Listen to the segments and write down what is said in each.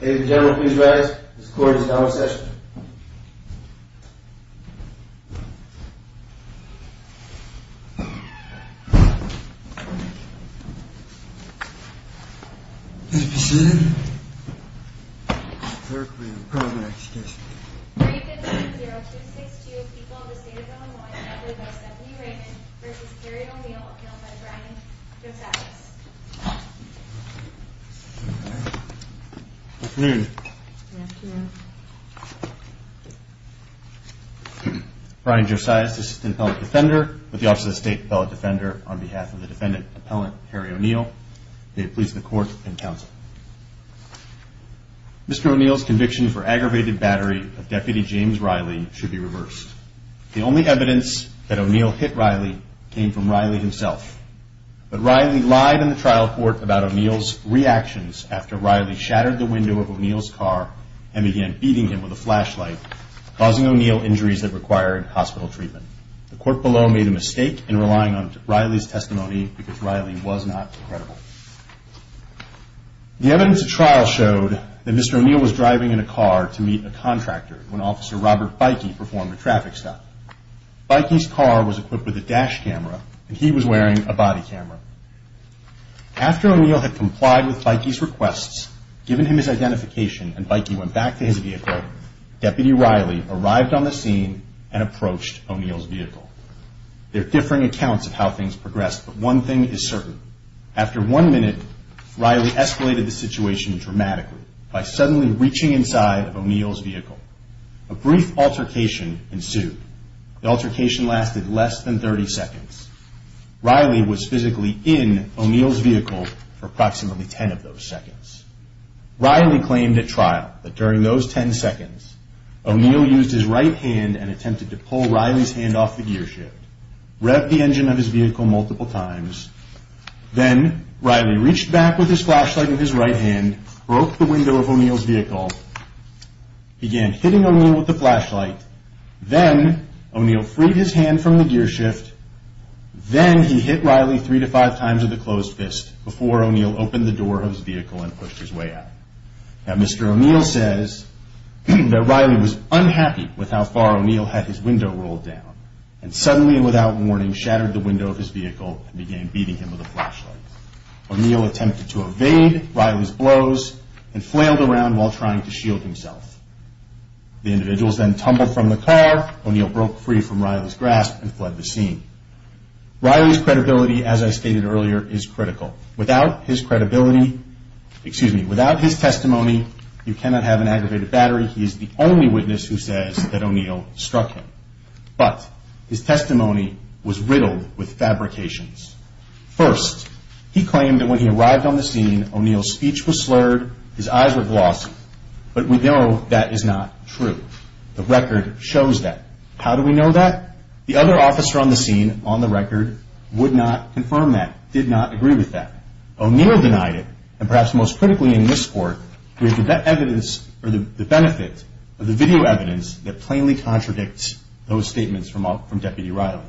Ladies and gentlemen, please rise. This court is now in session. Let it be said, that the clerk will now call the next case. 3-5-0-2-6-2, People of the State of Illinois, and that will go Stephanie Raymond v. Harry O'Neal, appealed by Brian Josias. Good afternoon. Brian Josias, Assistant Appellate Defender, with the Office of the State Appellate Defender, on behalf of the Defendant Appellant, Harry O'Neal. May it please the Court and Counsel. Mr. O'Neal's conviction for aggravated battery of Deputy James Riley should be reversed. The only evidence that O'Neal hit Riley came from Riley himself. But Riley lied in the trial court about O'Neal's reactions after Riley shattered the window of O'Neal's car and began beating him with a flashlight, causing O'Neal injuries that required hospital treatment. The court below made a mistake in relying on Riley's testimony because Riley was not credible. The evidence at trial showed that Mr. O'Neal was driving in a car to meet a contractor when Officer Robert Beike performed a traffic stop. Beike's car was equipped with a dash camera, and he was wearing a body camera. After O'Neal had complied with Beike's requests, given him his identification, and Beike went back to his vehicle, Deputy Riley arrived on the scene and approached O'Neal's vehicle. There are differing accounts of how things progressed, but one thing is certain. After one minute, Riley escalated the situation dramatically by suddenly reaching inside of O'Neal's vehicle. A brief altercation ensued. The altercation lasted less than 30 seconds. Riley was physically in O'Neal's vehicle for approximately 10 of those seconds. Riley claimed at trial that during those 10 seconds, O'Neal used his right hand and attempted to pull Riley's hand off the gear shift, revved the engine of his vehicle multiple times, then Riley reached back with his flashlight in his right hand, broke the window of O'Neal's vehicle, began hitting O'Neal with the flashlight, then O'Neal freed his hand from the gear shift, then he hit Riley three to five times with a closed fist before O'Neal opened the door of his vehicle and pushed his way out. Now, Mr. O'Neal says that Riley was unhappy with how far O'Neal had his window rolled down, and suddenly and without warning shattered the window of his vehicle and began beating him with a flashlight. O'Neal attempted to evade Riley's blows and flailed around while trying to shield himself. The individuals then tumbled from the car. O'Neal broke free from Riley's grasp and fled the scene. Riley's credibility, as I stated earlier, is critical. Without his credibility, excuse me, without his testimony, you cannot have an aggravated battery. He is the only witness who says that O'Neal struck him, but his testimony was riddled with fabrications. First, he claimed that when he arrived on the scene, O'Neal's speech was slurred, his eyes were glossy, but we know that is not true. The record shows that. How do we know that? The other officer on the scene, on the record, would not confirm that, did not agree with that. O'Neal denied it, and perhaps most critically in this court, we have the benefit of the video evidence that plainly contradicts those statements from Deputy Riley.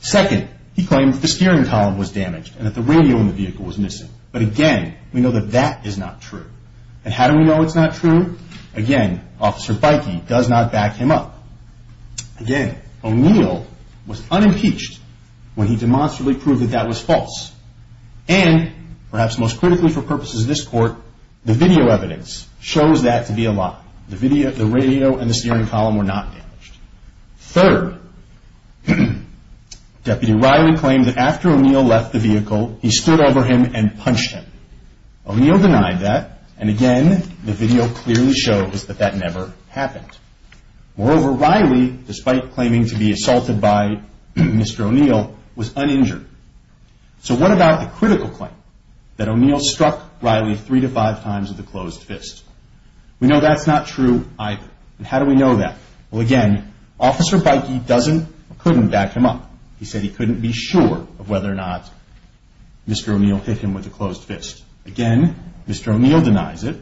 Second, he claimed that the steering column was damaged and that the radio in the vehicle was missing. But again, we know that that is not true. And how do we know it's not true? Again, Officer Beike does not back him up. Again, O'Neal was unimpeached when he demonstrably proved that that was false. And, perhaps most critically for purposes of this court, the video evidence shows that to be a lie. The radio and the steering column were not damaged. Third, Deputy Riley claimed that after O'Neal left the vehicle, he stood over him and punched him. O'Neal denied that, and again, the video clearly shows that that never happened. Moreover, Riley, despite claiming to be assaulted by Mr. O'Neal, was uninjured. So what about the critical claim that O'Neal struck Riley three to five times with a closed fist? We know that's not true either. And how do we know that? Well, again, Officer Beike doesn't or couldn't back him up. He said he couldn't be sure of whether or not Mr. O'Neal hit him with a closed fist. Again, Mr. O'Neal denies it.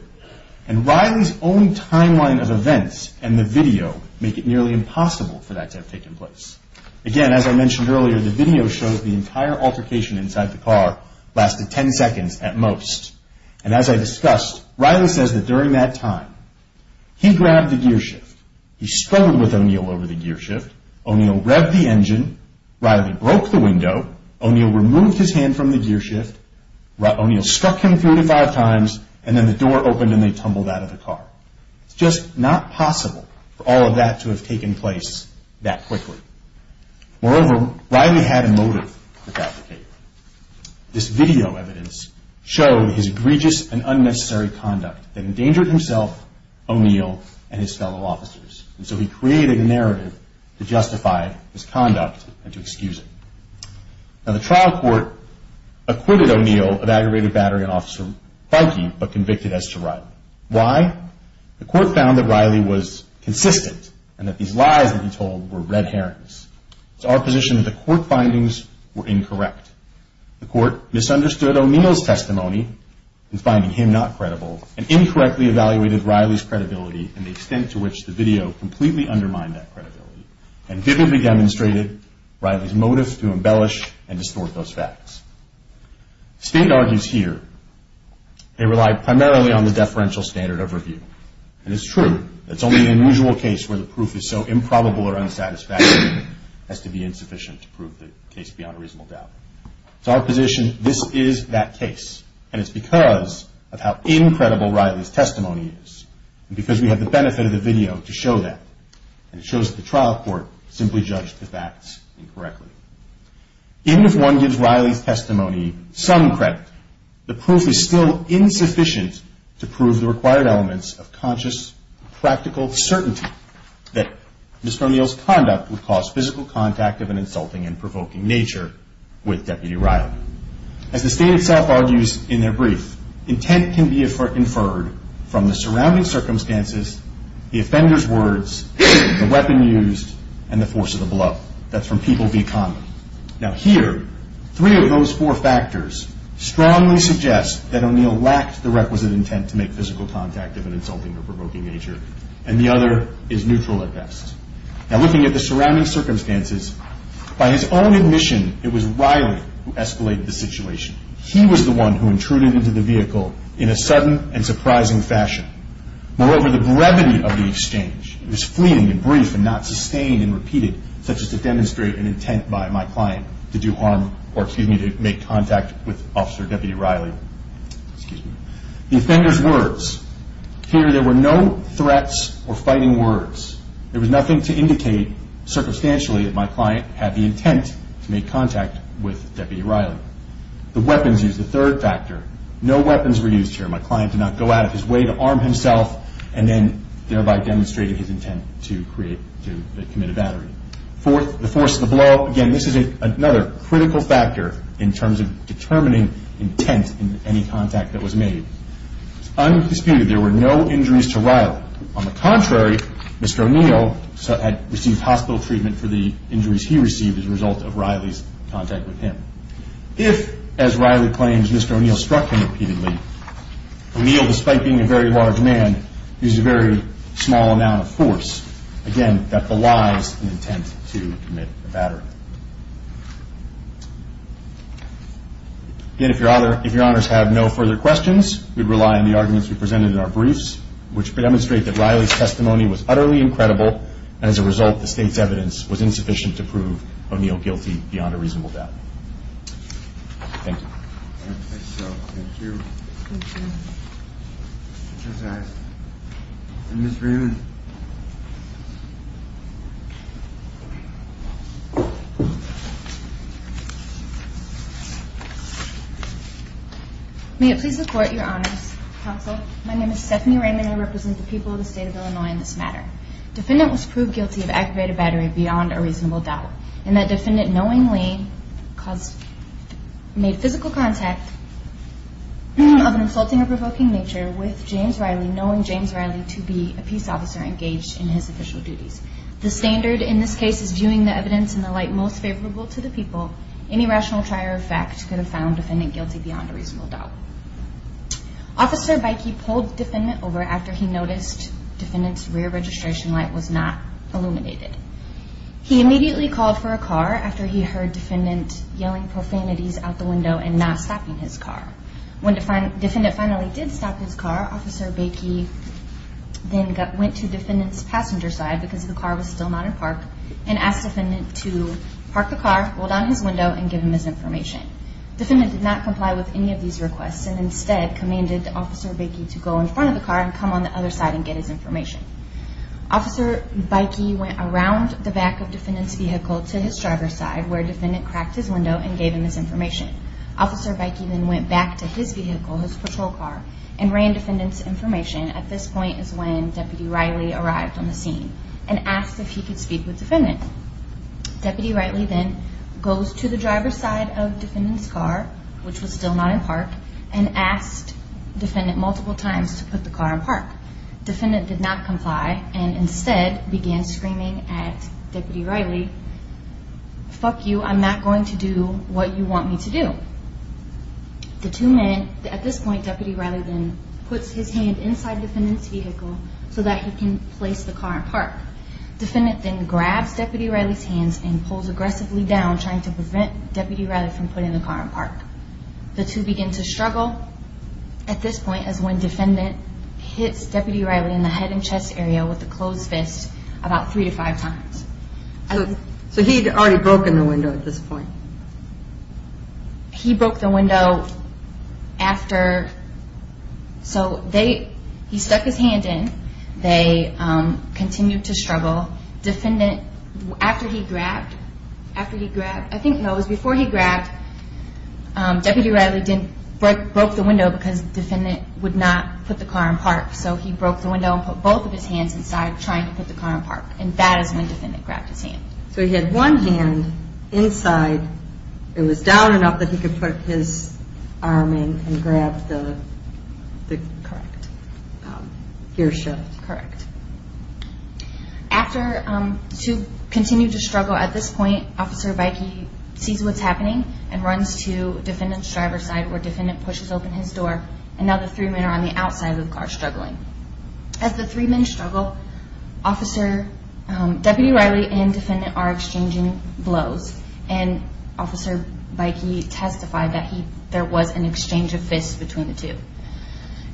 And Riley's own timeline of events and the video make it nearly impossible for that to have taken place. Again, as I mentioned earlier, the video shows the entire altercation inside the car lasted ten seconds at most. And as I discussed, Riley says that during that time, he grabbed the gearshift. He struggled with O'Neal over the gearshift. O'Neal revved the engine. Riley broke the window. O'Neal removed his hand from the gearshift. O'Neal struck him three to five times. And then the door opened and they tumbled out of the car. It's just not possible for all of that to have taken place that quickly. Moreover, Riley had a motive to fabricate. This video evidence showed his egregious and unnecessary conduct that endangered himself, O'Neal, and his fellow officers. And so he created a narrative to justify his conduct and to excuse it. Now, the trial court acquitted O'Neal of aggravated battery on Officer Feige but convicted as to Riley. Why? The court found that Riley was consistent and that these lies that he told were red herrings. It's our position that the court findings were incorrect. The court misunderstood O'Neal's testimony in finding him not credible and incorrectly evaluated Riley's credibility and the extent to which the video completely undermined that credibility and vividly demonstrated Riley's motive to embellish and distort those facts. State argues here they relied primarily on the deferential standard of review. And it's true. It's only an unusual case where the proof is so improbable or unsatisfactory as to be insufficient to prove the case beyond a reasonable doubt. It's our position this is that case. And it's because of how incredible Riley's testimony is and because we have the benefit of the video to show that. And it shows that the trial court simply judged the facts incorrectly. Even if one gives Riley's testimony some credit, the proof is still insufficient to prove the required elements of conscious, practical certainty that Mr. O'Neal's conduct would cause physical contact of an insulting and provoking nature with Deputy Riley. As the state itself argues in their brief, intent can be inferred from the surrounding circumstances, the offender's words, the weapon used, and the force of the blow. That's from people v. Conley. Now here, three of those four factors strongly suggest that O'Neal lacked the requisite intent to make physical contact of an insulting or provoking nature. And the other is neutral at best. Now looking at the surrounding circumstances, by his own admission, it was Riley who escalated the situation. He was the one who intruded into the vehicle in a sudden and surprising fashion. Moreover, the brevity of the exchange was fleeting and brief and not sustained and repeated, such as to demonstrate an intent by my client to do harm or, excuse me, to make contact with Officer Deputy Riley. The offender's words. Here there were no threats or fighting words. There was nothing to indicate circumstantially that my client had the intent to make contact with Deputy Riley. The weapons used, the third factor. No weapons were used here. My client did not go out of his way to arm himself and then thereby demonstrate his intent to commit a battery. The force of the blow, again, this is another critical factor in terms of determining intent in any contact that was made. It's undisputed there were no injuries to Riley. On the contrary, Mr. O'Neal had received hospital treatment for the injuries he received as a result of Riley's contact with him. If, as Riley claims, Mr. O'Neal struck him repeatedly, O'Neal, despite being a very large man, used a very small amount of force, again, that belies an intent to commit a battery. Again, if your honors have no further questions, we'd rely on the arguments we presented in our briefs, which demonstrate that Riley's testimony was utterly incredible and, as a result, the state's evidence was insufficient to prove O'Neal guilty beyond a reasonable doubt. Thank you. Thank you. Ms. Raymond. May it please the court, your honors, counsel, my name is Stephanie Raymond. I represent the people of the state of Illinois in this matter. Defendant was proved guilty of activating a battery beyond a reasonable doubt in that defendant knowingly made physical contact of an insulting or provoking nature with James Riley, knowing James Riley to be a peace officer engaged in his official duties. The standard in this case is viewing the evidence in the light most favorable to the people. Any rational try or effect could have found defendant guilty beyond a reasonable doubt. Officer Beike pulled defendant over after he noticed defendant's rear registration light was not illuminated. He immediately called for a car after he heard defendant yelling profanities out the window and not stopping his car. When defendant finally did stop his car, Officer Beike then went to defendant's passenger side because the car was still not in park and asked defendant to park the car, roll down his window, and give him his information. Defendant did not comply with any of these requests and instead commanded Officer Beike to go in front of the car and come on the other side and get his information. Officer Beike went around the back of defendant's vehicle to his driver's side where defendant cracked his window and gave him his information. Officer Beike then went back to his vehicle, his patrol car, and ran defendant's information. At this point is when Deputy Riley arrived on the scene and asked if he could speak with defendant. Deputy Riley then goes to the driver's side of defendant's car, which was still not in park, and asked defendant multiple times to put the car in park. Defendant did not comply and instead began screaming at Deputy Riley, Fuck you, I'm not going to do what you want me to do. At this point, Deputy Riley then puts his hand inside defendant's vehicle so that he can place the car in park. Defendant then grabs Deputy Riley's hands and pulls aggressively down, trying to prevent Deputy Riley from putting the car in park. The two begin to struggle. At this point is when defendant hits Deputy Riley in the head and chest area with a closed fist about three to five times. So he had already broken the window at this point? He broke the window after... So he stuck his hand in, they continued to struggle. Defendant, after he grabbed, I think no, it was before he grabbed, Deputy Riley broke the window because defendant would not put the car in park. So he broke the window and put both of his hands inside trying to put the car in park. And that is when defendant grabbed his hand. So he had one hand inside, it was down enough that he could put his arm in and grab the... Correct. Gear shift. Correct. After, to continue to struggle at this point, Officer Beike sees what's happening and runs to defendant's driver's side where defendant pushes open his door and now the three men are on the outside of the car struggling. As the three men struggle, Deputy Riley and defendant are exchanging blows and Officer Beike testified that there was an exchange of fists between the two.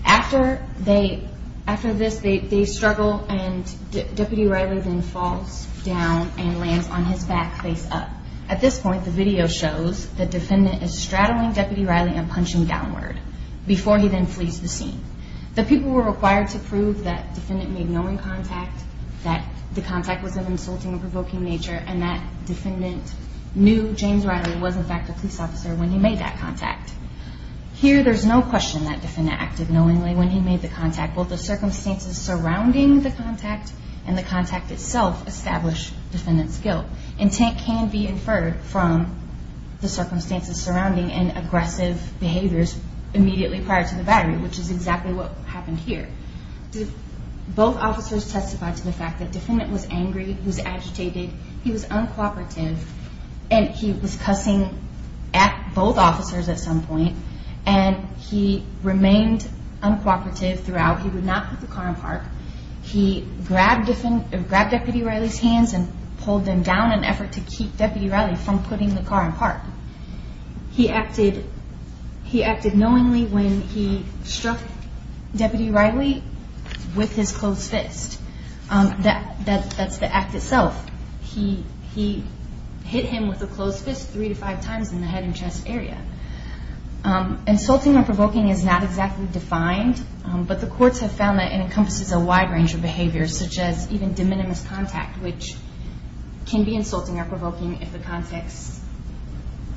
After this they struggle and Deputy Riley then falls down and lands on his back face up. At this point the video shows that defendant is straddling Deputy Riley and punching downward before he then flees the scene. The people were required to prove that defendant made knowing contact, that the contact was of an insulting and provoking nature and that defendant knew James Riley was in fact a police officer when he made that contact. Here there's no question that defendant acted knowingly when he made the contact. Both the circumstances surrounding the contact and the contact itself establish defendant's guilt. Intent can be inferred from the circumstances surrounding and aggressive behaviors immediately prior to the battery which is exactly what happened here. Both officers testified to the fact that defendant was angry, he was agitated, he was uncooperative and he was cussing at both officers at some point and he remained uncooperative throughout. He would not put the car in park. He grabbed Deputy Riley's hands and pulled them down in an effort to keep Deputy Riley from putting the car in park. He acted knowingly when he struck Deputy Riley with his closed fist. That's the act itself. He hit him with a closed fist three to five times in the head and chest area. Insulting or provoking is not exactly defined, but the courts have found that it encompasses a wide range of behaviors such as even de minimis contact which can be insulting or provoking if the context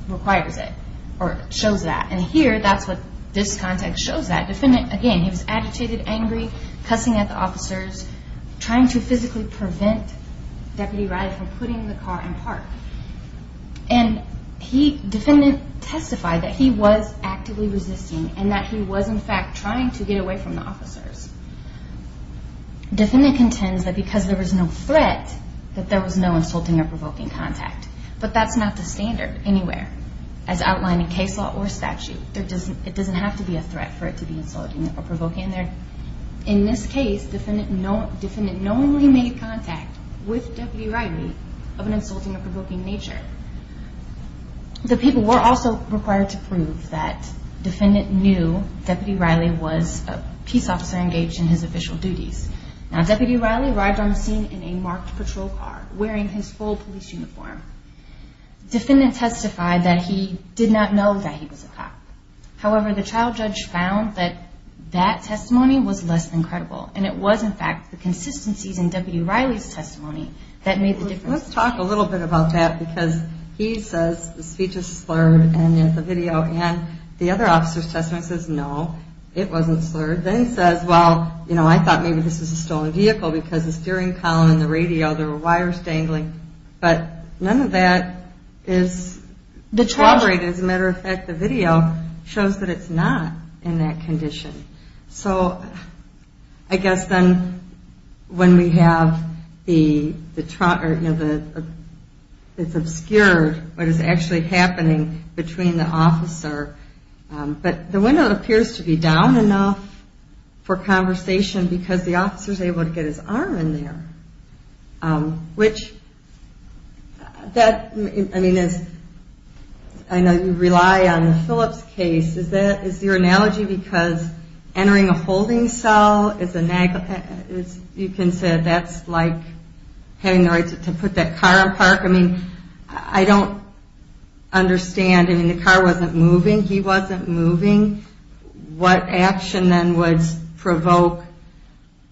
requires it or shows that. Here that's what this context shows that. Defendant, again, he was agitated, angry, cussing at the officers, trying to physically prevent Deputy Riley from putting the car in park. Defendant testified that he was actively resisting and that he was in fact trying to get away from the officers. Defendant contends that because there was no threat that there was no insulting or provoking contact, but that's not the standard anywhere as outlined in case law or statute. It doesn't have to be a threat for it to be insulting or provoking. In this case, defendant knowingly made contact with Deputy Riley of an insulting or provoking nature. The people were also required to prove that defendant knew Deputy Riley was a peace officer engaged in his official duties. Now Deputy Riley arrived on the scene in a marked patrol car wearing his full police uniform. Defendant testified that he did not know that he was a cop. However, the trial judge found that that testimony was less than credible and it was in fact the consistencies in Deputy Riley's testimony that made the difference. Let's talk a little bit about that because he says the speech is slurred and the video and the other officer's testimony says no, it wasn't slurred. Then says, well, you know, I thought maybe this was a stolen vehicle because the steering column and the radio, there were wires dangling, but none of that is corroborated. As a matter of fact, the video shows that it's not in that condition. So I guess then when we have the, you know, it's obscured what is actually happening between the officer, but the window appears to be down enough for conversation because the officer's able to get his arm in there, which that, I mean, I know you rely on the Phillips case. Is your analogy because entering a holding cell is, you can say that's like having the right to put that car in park? I mean, I don't understand. I mean, the car wasn't moving. He wasn't moving. What action then would provoke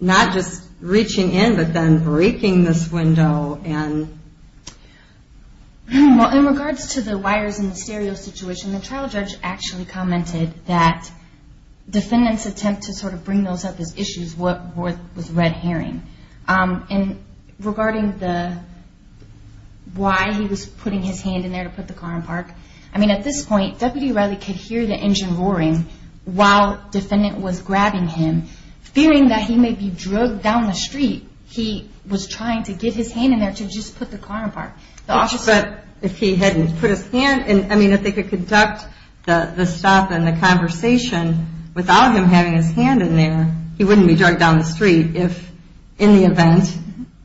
not just reaching in, but then breaking this window? Well, in regards to the wires and the stereo situation, the trial judge actually commented that defendant's attempt to sort of bring those up as issues was red herring. And regarding the why he was putting his hand in there to put the car in park, I mean, at this point, Deputy Riley could hear the engine roaring while defendant was grabbing him, fearing that he may be drugged down the street. He was trying to get his hand in there to just put the car in park. But if he hadn't put his hand in, I mean, if they could conduct the stop and the conversation without him having his hand in there, he wouldn't be drugged down the street if in the event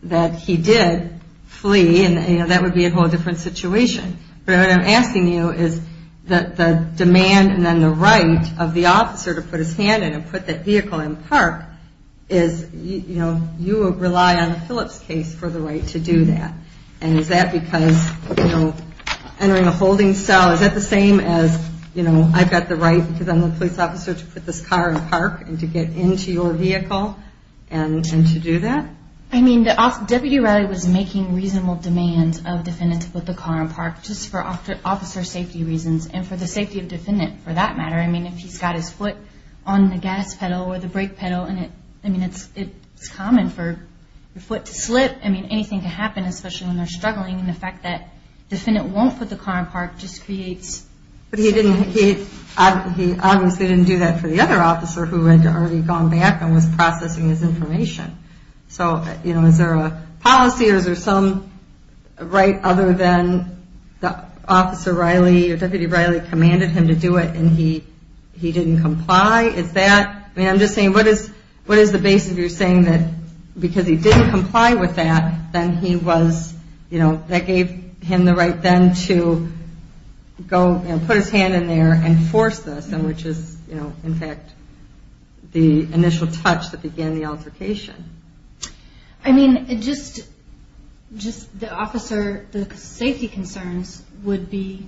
that he did flee. And, you know, that would be a whole different situation. But what I'm asking you is that the demand and then the right of the officer to put his hand in and put the vehicle in park is, you know, you rely on the Phillips case for the right to do that. And is that because, you know, entering a holding cell, is that the same as, you know, I've got the right because I'm a police officer to put this car in park and to get into your vehicle and to do that? I mean, Deputy Riley was making reasonable demands of defendant to put the car in park just for officer safety reasons and for the safety of defendant for that matter. I mean, if he's got his foot on the gas pedal or the brake pedal, I mean, it's common for your foot to slip. I mean, anything can happen, especially when they're struggling. And the fact that defendant won't put the car in park just creates... But he obviously didn't do that for the other officer who had already gone back and was processing his information. So, you know, is there a policy or is there some right other than the officer Riley or Deputy Riley commanded him to do it and he didn't comply? I mean, I'm just saying, what is the basis of your saying that because he didn't comply with that, then he was, you know, that gave him the right then to go and put his hand in there and force this, which is, you know, in fact, the initial touch that began the altercation. I mean, just the officer, the safety concerns would be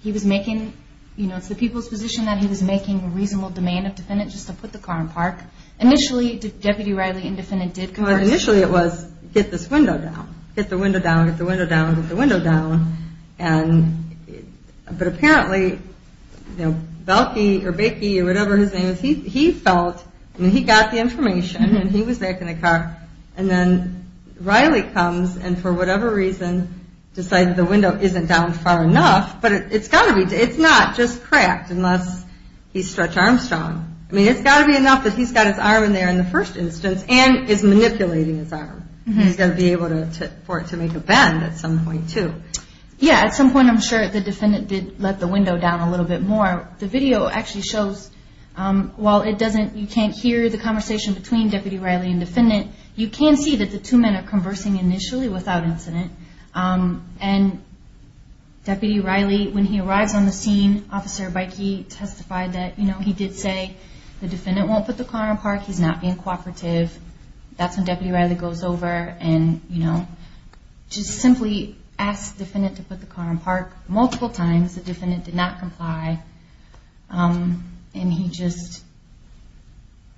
he was making, you know, it's the people's position that he was making reasonable demand of defendant just to put the car in park. Initially, Deputy Riley and defendant did... Initially, it was get this window down. Get the window down, get the window down, get the window down. But apparently, you know, Belkey or Bakey or whatever his name is, he felt... I mean, he got the information and he was back in the car and then Riley comes and for whatever reason decided the window isn't down far enough. But it's got to be... It's not just cracked unless he's Stretch Armstrong. I mean, it's got to be enough that he's got his arm in there in the first instance and is manipulating his arm. He's got to be able for it to make a bend at some point, too. Yeah, at some point, I'm sure the defendant did let the window down a little bit more. The video actually shows while it doesn't... You can't hear the conversation between Deputy Riley and defendant. You can see that the two men are conversing initially without incident. And Deputy Riley, when he arrives on the scene, Officer Bakey testified that, you know, he did say the defendant won't put the car in park. He's not being cooperative. That's when Deputy Riley goes over and, you know, just simply asked the defendant to put the car in park multiple times. The defendant did not comply. And he just,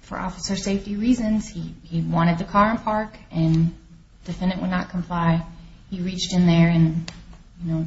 for officer safety reasons, he wanted the car in park and the defendant would not comply. He reached in there and, you know,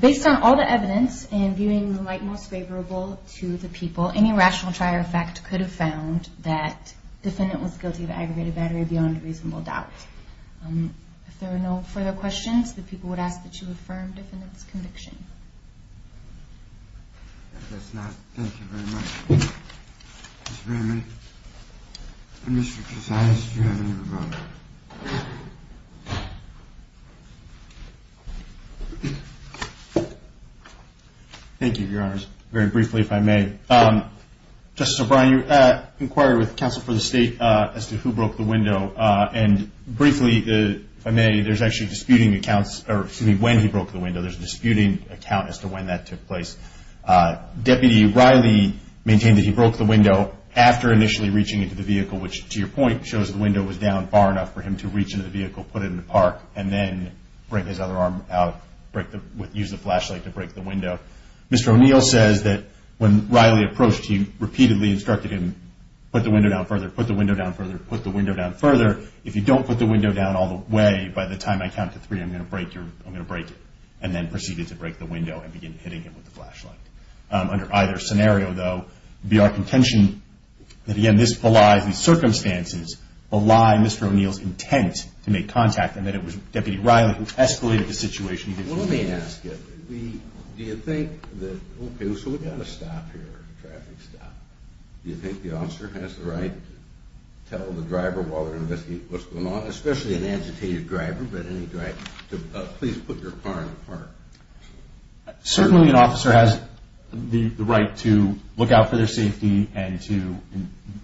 Based on all the evidence and viewing the light most favorable to the people, any rational trier of fact could have found that defendant was guilty of aggregated battery beyond reasonable doubt. If there are no further questions, the people would ask that you affirm defendant's conviction. If that's not, thank you very much. Mr. Brannon, Mr. Posadas, do you have any rebuttals? Thank you, Your Honors. Very briefly, if I may. Justice O'Brien, you inquired with counsel for the state as to who broke the window. And briefly, if I may, there's actually disputing accounts, or excuse me, when he broke the window. There's a disputing account as to when that took place. Deputy Riley maintained that he broke the window after initially reaching into the vehicle, which, to your point, shows the window was down far enough for him to reach into the vehicle, put it in the park, and then bring his other arm out, use the flashlight to break the window. Mr. O'Neill says that when Riley approached, he repeatedly instructed him, put the window down further, put the window down further, put the window down further. If you don't put the window down all the way, by the time I count to three, I'm going to break it. And then proceeded to break the window and begin hitting him with the flashlight. Under either scenario, though, it would be our contention that, again, this belies the circumstances, belies Mr. O'Neill's intent to make contact, and that it was Deputy Riley who escalated the situation. Well, let me ask you, do you think that, okay, so we've got a stop here, a traffic stop. Do you think the officer has the right to tell the driver while they're investigating what's going on, especially an agitated driver, but any driver, to please put your car in the park? Certainly an officer has the right to look out for their safety and to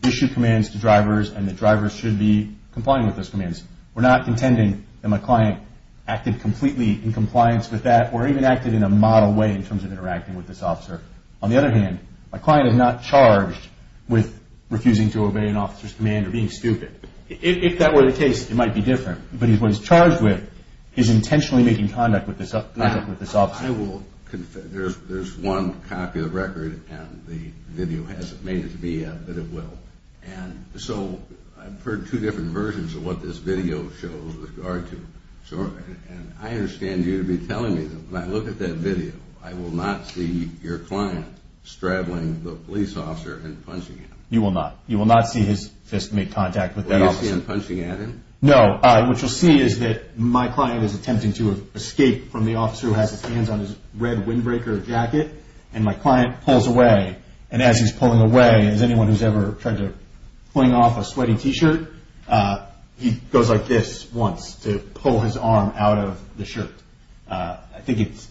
issue commands to drivers, and the drivers should be complying with those commands. We're not contending that my client acted completely in compliance with that or even acted in a model way in terms of interacting with this officer. On the other hand, my client is not charged with refusing to obey an officer's command or being stupid. If that were the case, it might be different, but what he's charged with is intentionally making contact with this officer. There's one copy of the record, and the video hasn't made it to me yet, but it will. And so I've heard two different versions of what this video shows with regard to, and I understand you to be telling me that when I look at that video, I will not see your client straddling the police officer and punching him. You will not. You will not see his fist make contact with that officer. Will you see him punching at him? No. What you'll see is that my client is attempting to escape from the officer who has his hands on his red windbreaker jacket, and my client pulls away, and as he's pulling away, as anyone who's ever tried to fling off a sweaty T-shirt, he goes like this once to pull his arm out of the shirt. I think it's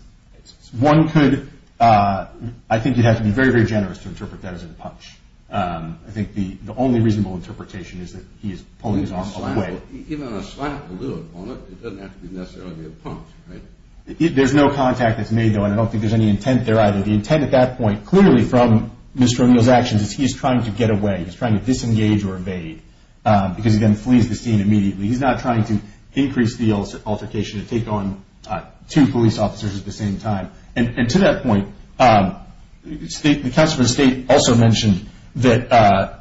one could, I think you'd have to be very, very generous to interpret that as a punch. I think the only reasonable interpretation is that he is pulling his arm all the way. Even on a slightly little opponent, it doesn't have to be necessarily a punch, right? There's no contact that's made, though, and I don't think there's any intent there either. The intent at that point, clearly from Mr. O'Neill's actions, is he's trying to get away. He's trying to disengage or evade, because he then flees the scene immediately. He's not trying to increase the altercation and take on two police officers at the same time. And to that point, the counselor for the state also mentioned that,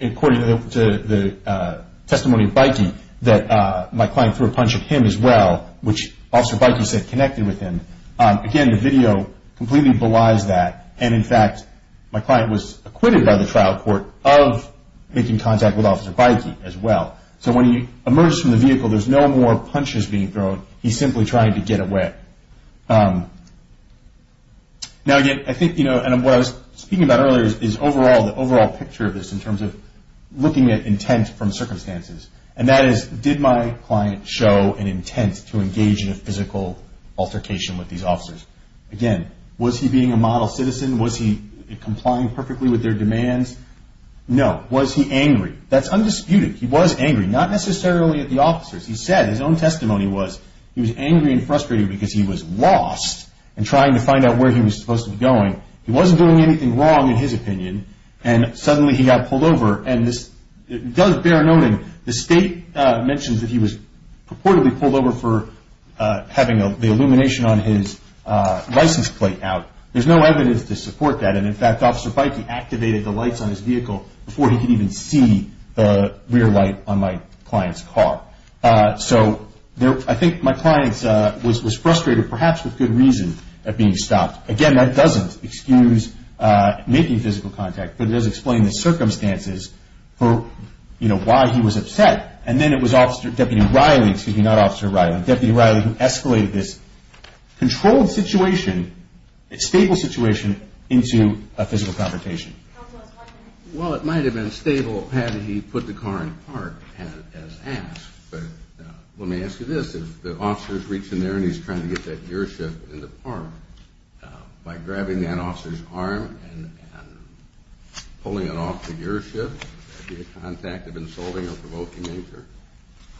according to the testimony of Bykey, that my client threw a punch at him as well, which Officer Bykey said connected with him. Again, the video completely belies that, and, in fact, my client was acquitted by the trial court of making contact with Officer Bykey as well. So when he emerges from the vehicle, there's no more punches being thrown. He's simply trying to get away. Now, again, I think, you know, and what I was speaking about earlier is overall, the overall picture of this in terms of looking at intent from circumstances. And that is, did my client show an intent to engage in a physical altercation with these officers? Again, was he being a model citizen? Was he complying perfectly with their demands? No. Was he angry? That's undisputed. He was angry, not necessarily at the officers. He said his own testimony was he was angry and frustrated because he was lost and trying to find out where he was supposed to be going. He wasn't doing anything wrong, in his opinion, and suddenly he got pulled over. And this does bear noting. The state mentions that he was purportedly pulled over for having the illumination on his license plate out. There's no evidence to support that. In fact, Officer Beike activated the lights on his vehicle before he could even see the rear light on my client's car. So I think my client was frustrated, perhaps with good reason, at being stopped. Again, that doesn't excuse making physical contact, but it does explain the circumstances for, you know, why he was upset. And then it was Deputy Riley, excuse me, not Officer Riley, Deputy Riley, who escalated this controlled situation, stable situation, into a physical confrontation. Well, it might have been stable had he put the car in park as asked. But let me ask you this. If the officer is reaching there and he's trying to get that gear shift in the park, by grabbing that officer's arm and pulling it off the gear shift, would that be a contact of insulting or provoking nature?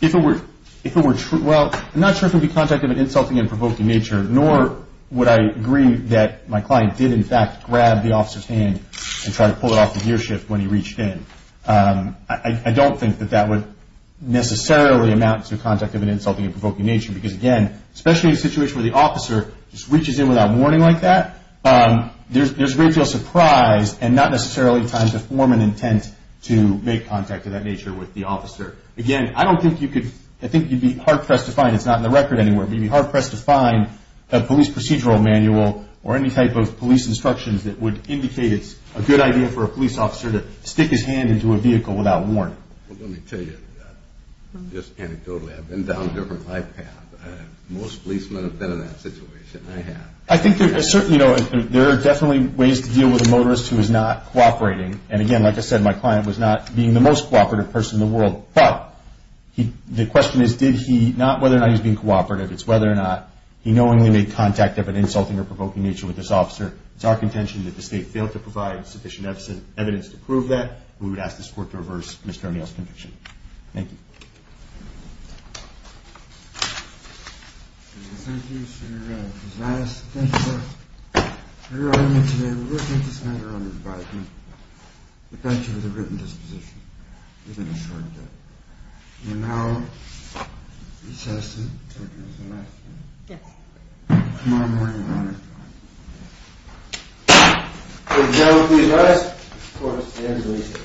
If it were true, well, I'm not sure if it would be contact of an insulting and provoking nature, nor would I agree that my client did, in fact, grab the officer's hand and try to pull it off the gear shift when he reached in. I don't think that that would necessarily amount to contact of an insulting and provoking nature, because, again, especially in a situation where the officer just reaches in without warning like that, there's a great deal of surprise and not necessarily time to form an intent to make contact of that nature with the officer. Again, I don't think you could, I think you'd be hard-pressed to find, it's not in the record anywhere, but you'd be hard-pressed to find a police procedural manual or any type of police instructions that would indicate it's a good idea for a police officer to stick his hand into a vehicle without warning. Well, let me tell you, just anecdotally, I've been down different life paths. Most policemen have been in that situation. I have. I think there are definitely ways to deal with a motorist who is not cooperating. And, again, like I said, my client was not being the most cooperative person in the world. But the question is not whether or not he's being cooperative, it's whether or not he knowingly made contact of an insulting or provoking nature with this officer. It's our contention that the State failed to provide sufficient evidence to prove that. We would ask this Court to reverse Mr. O'Neill's conviction. Thank you. Thank you, Mr. Narang. Ms. Niasse, thank you all for joining me today. We're looking at this matter under the bypass. We thank you for the written disposition. We've been assured of that. And now, Ms. Heston, take us to the next one. Yes. Come on. Ladies and gentlemen, please rise. Court is adjourned.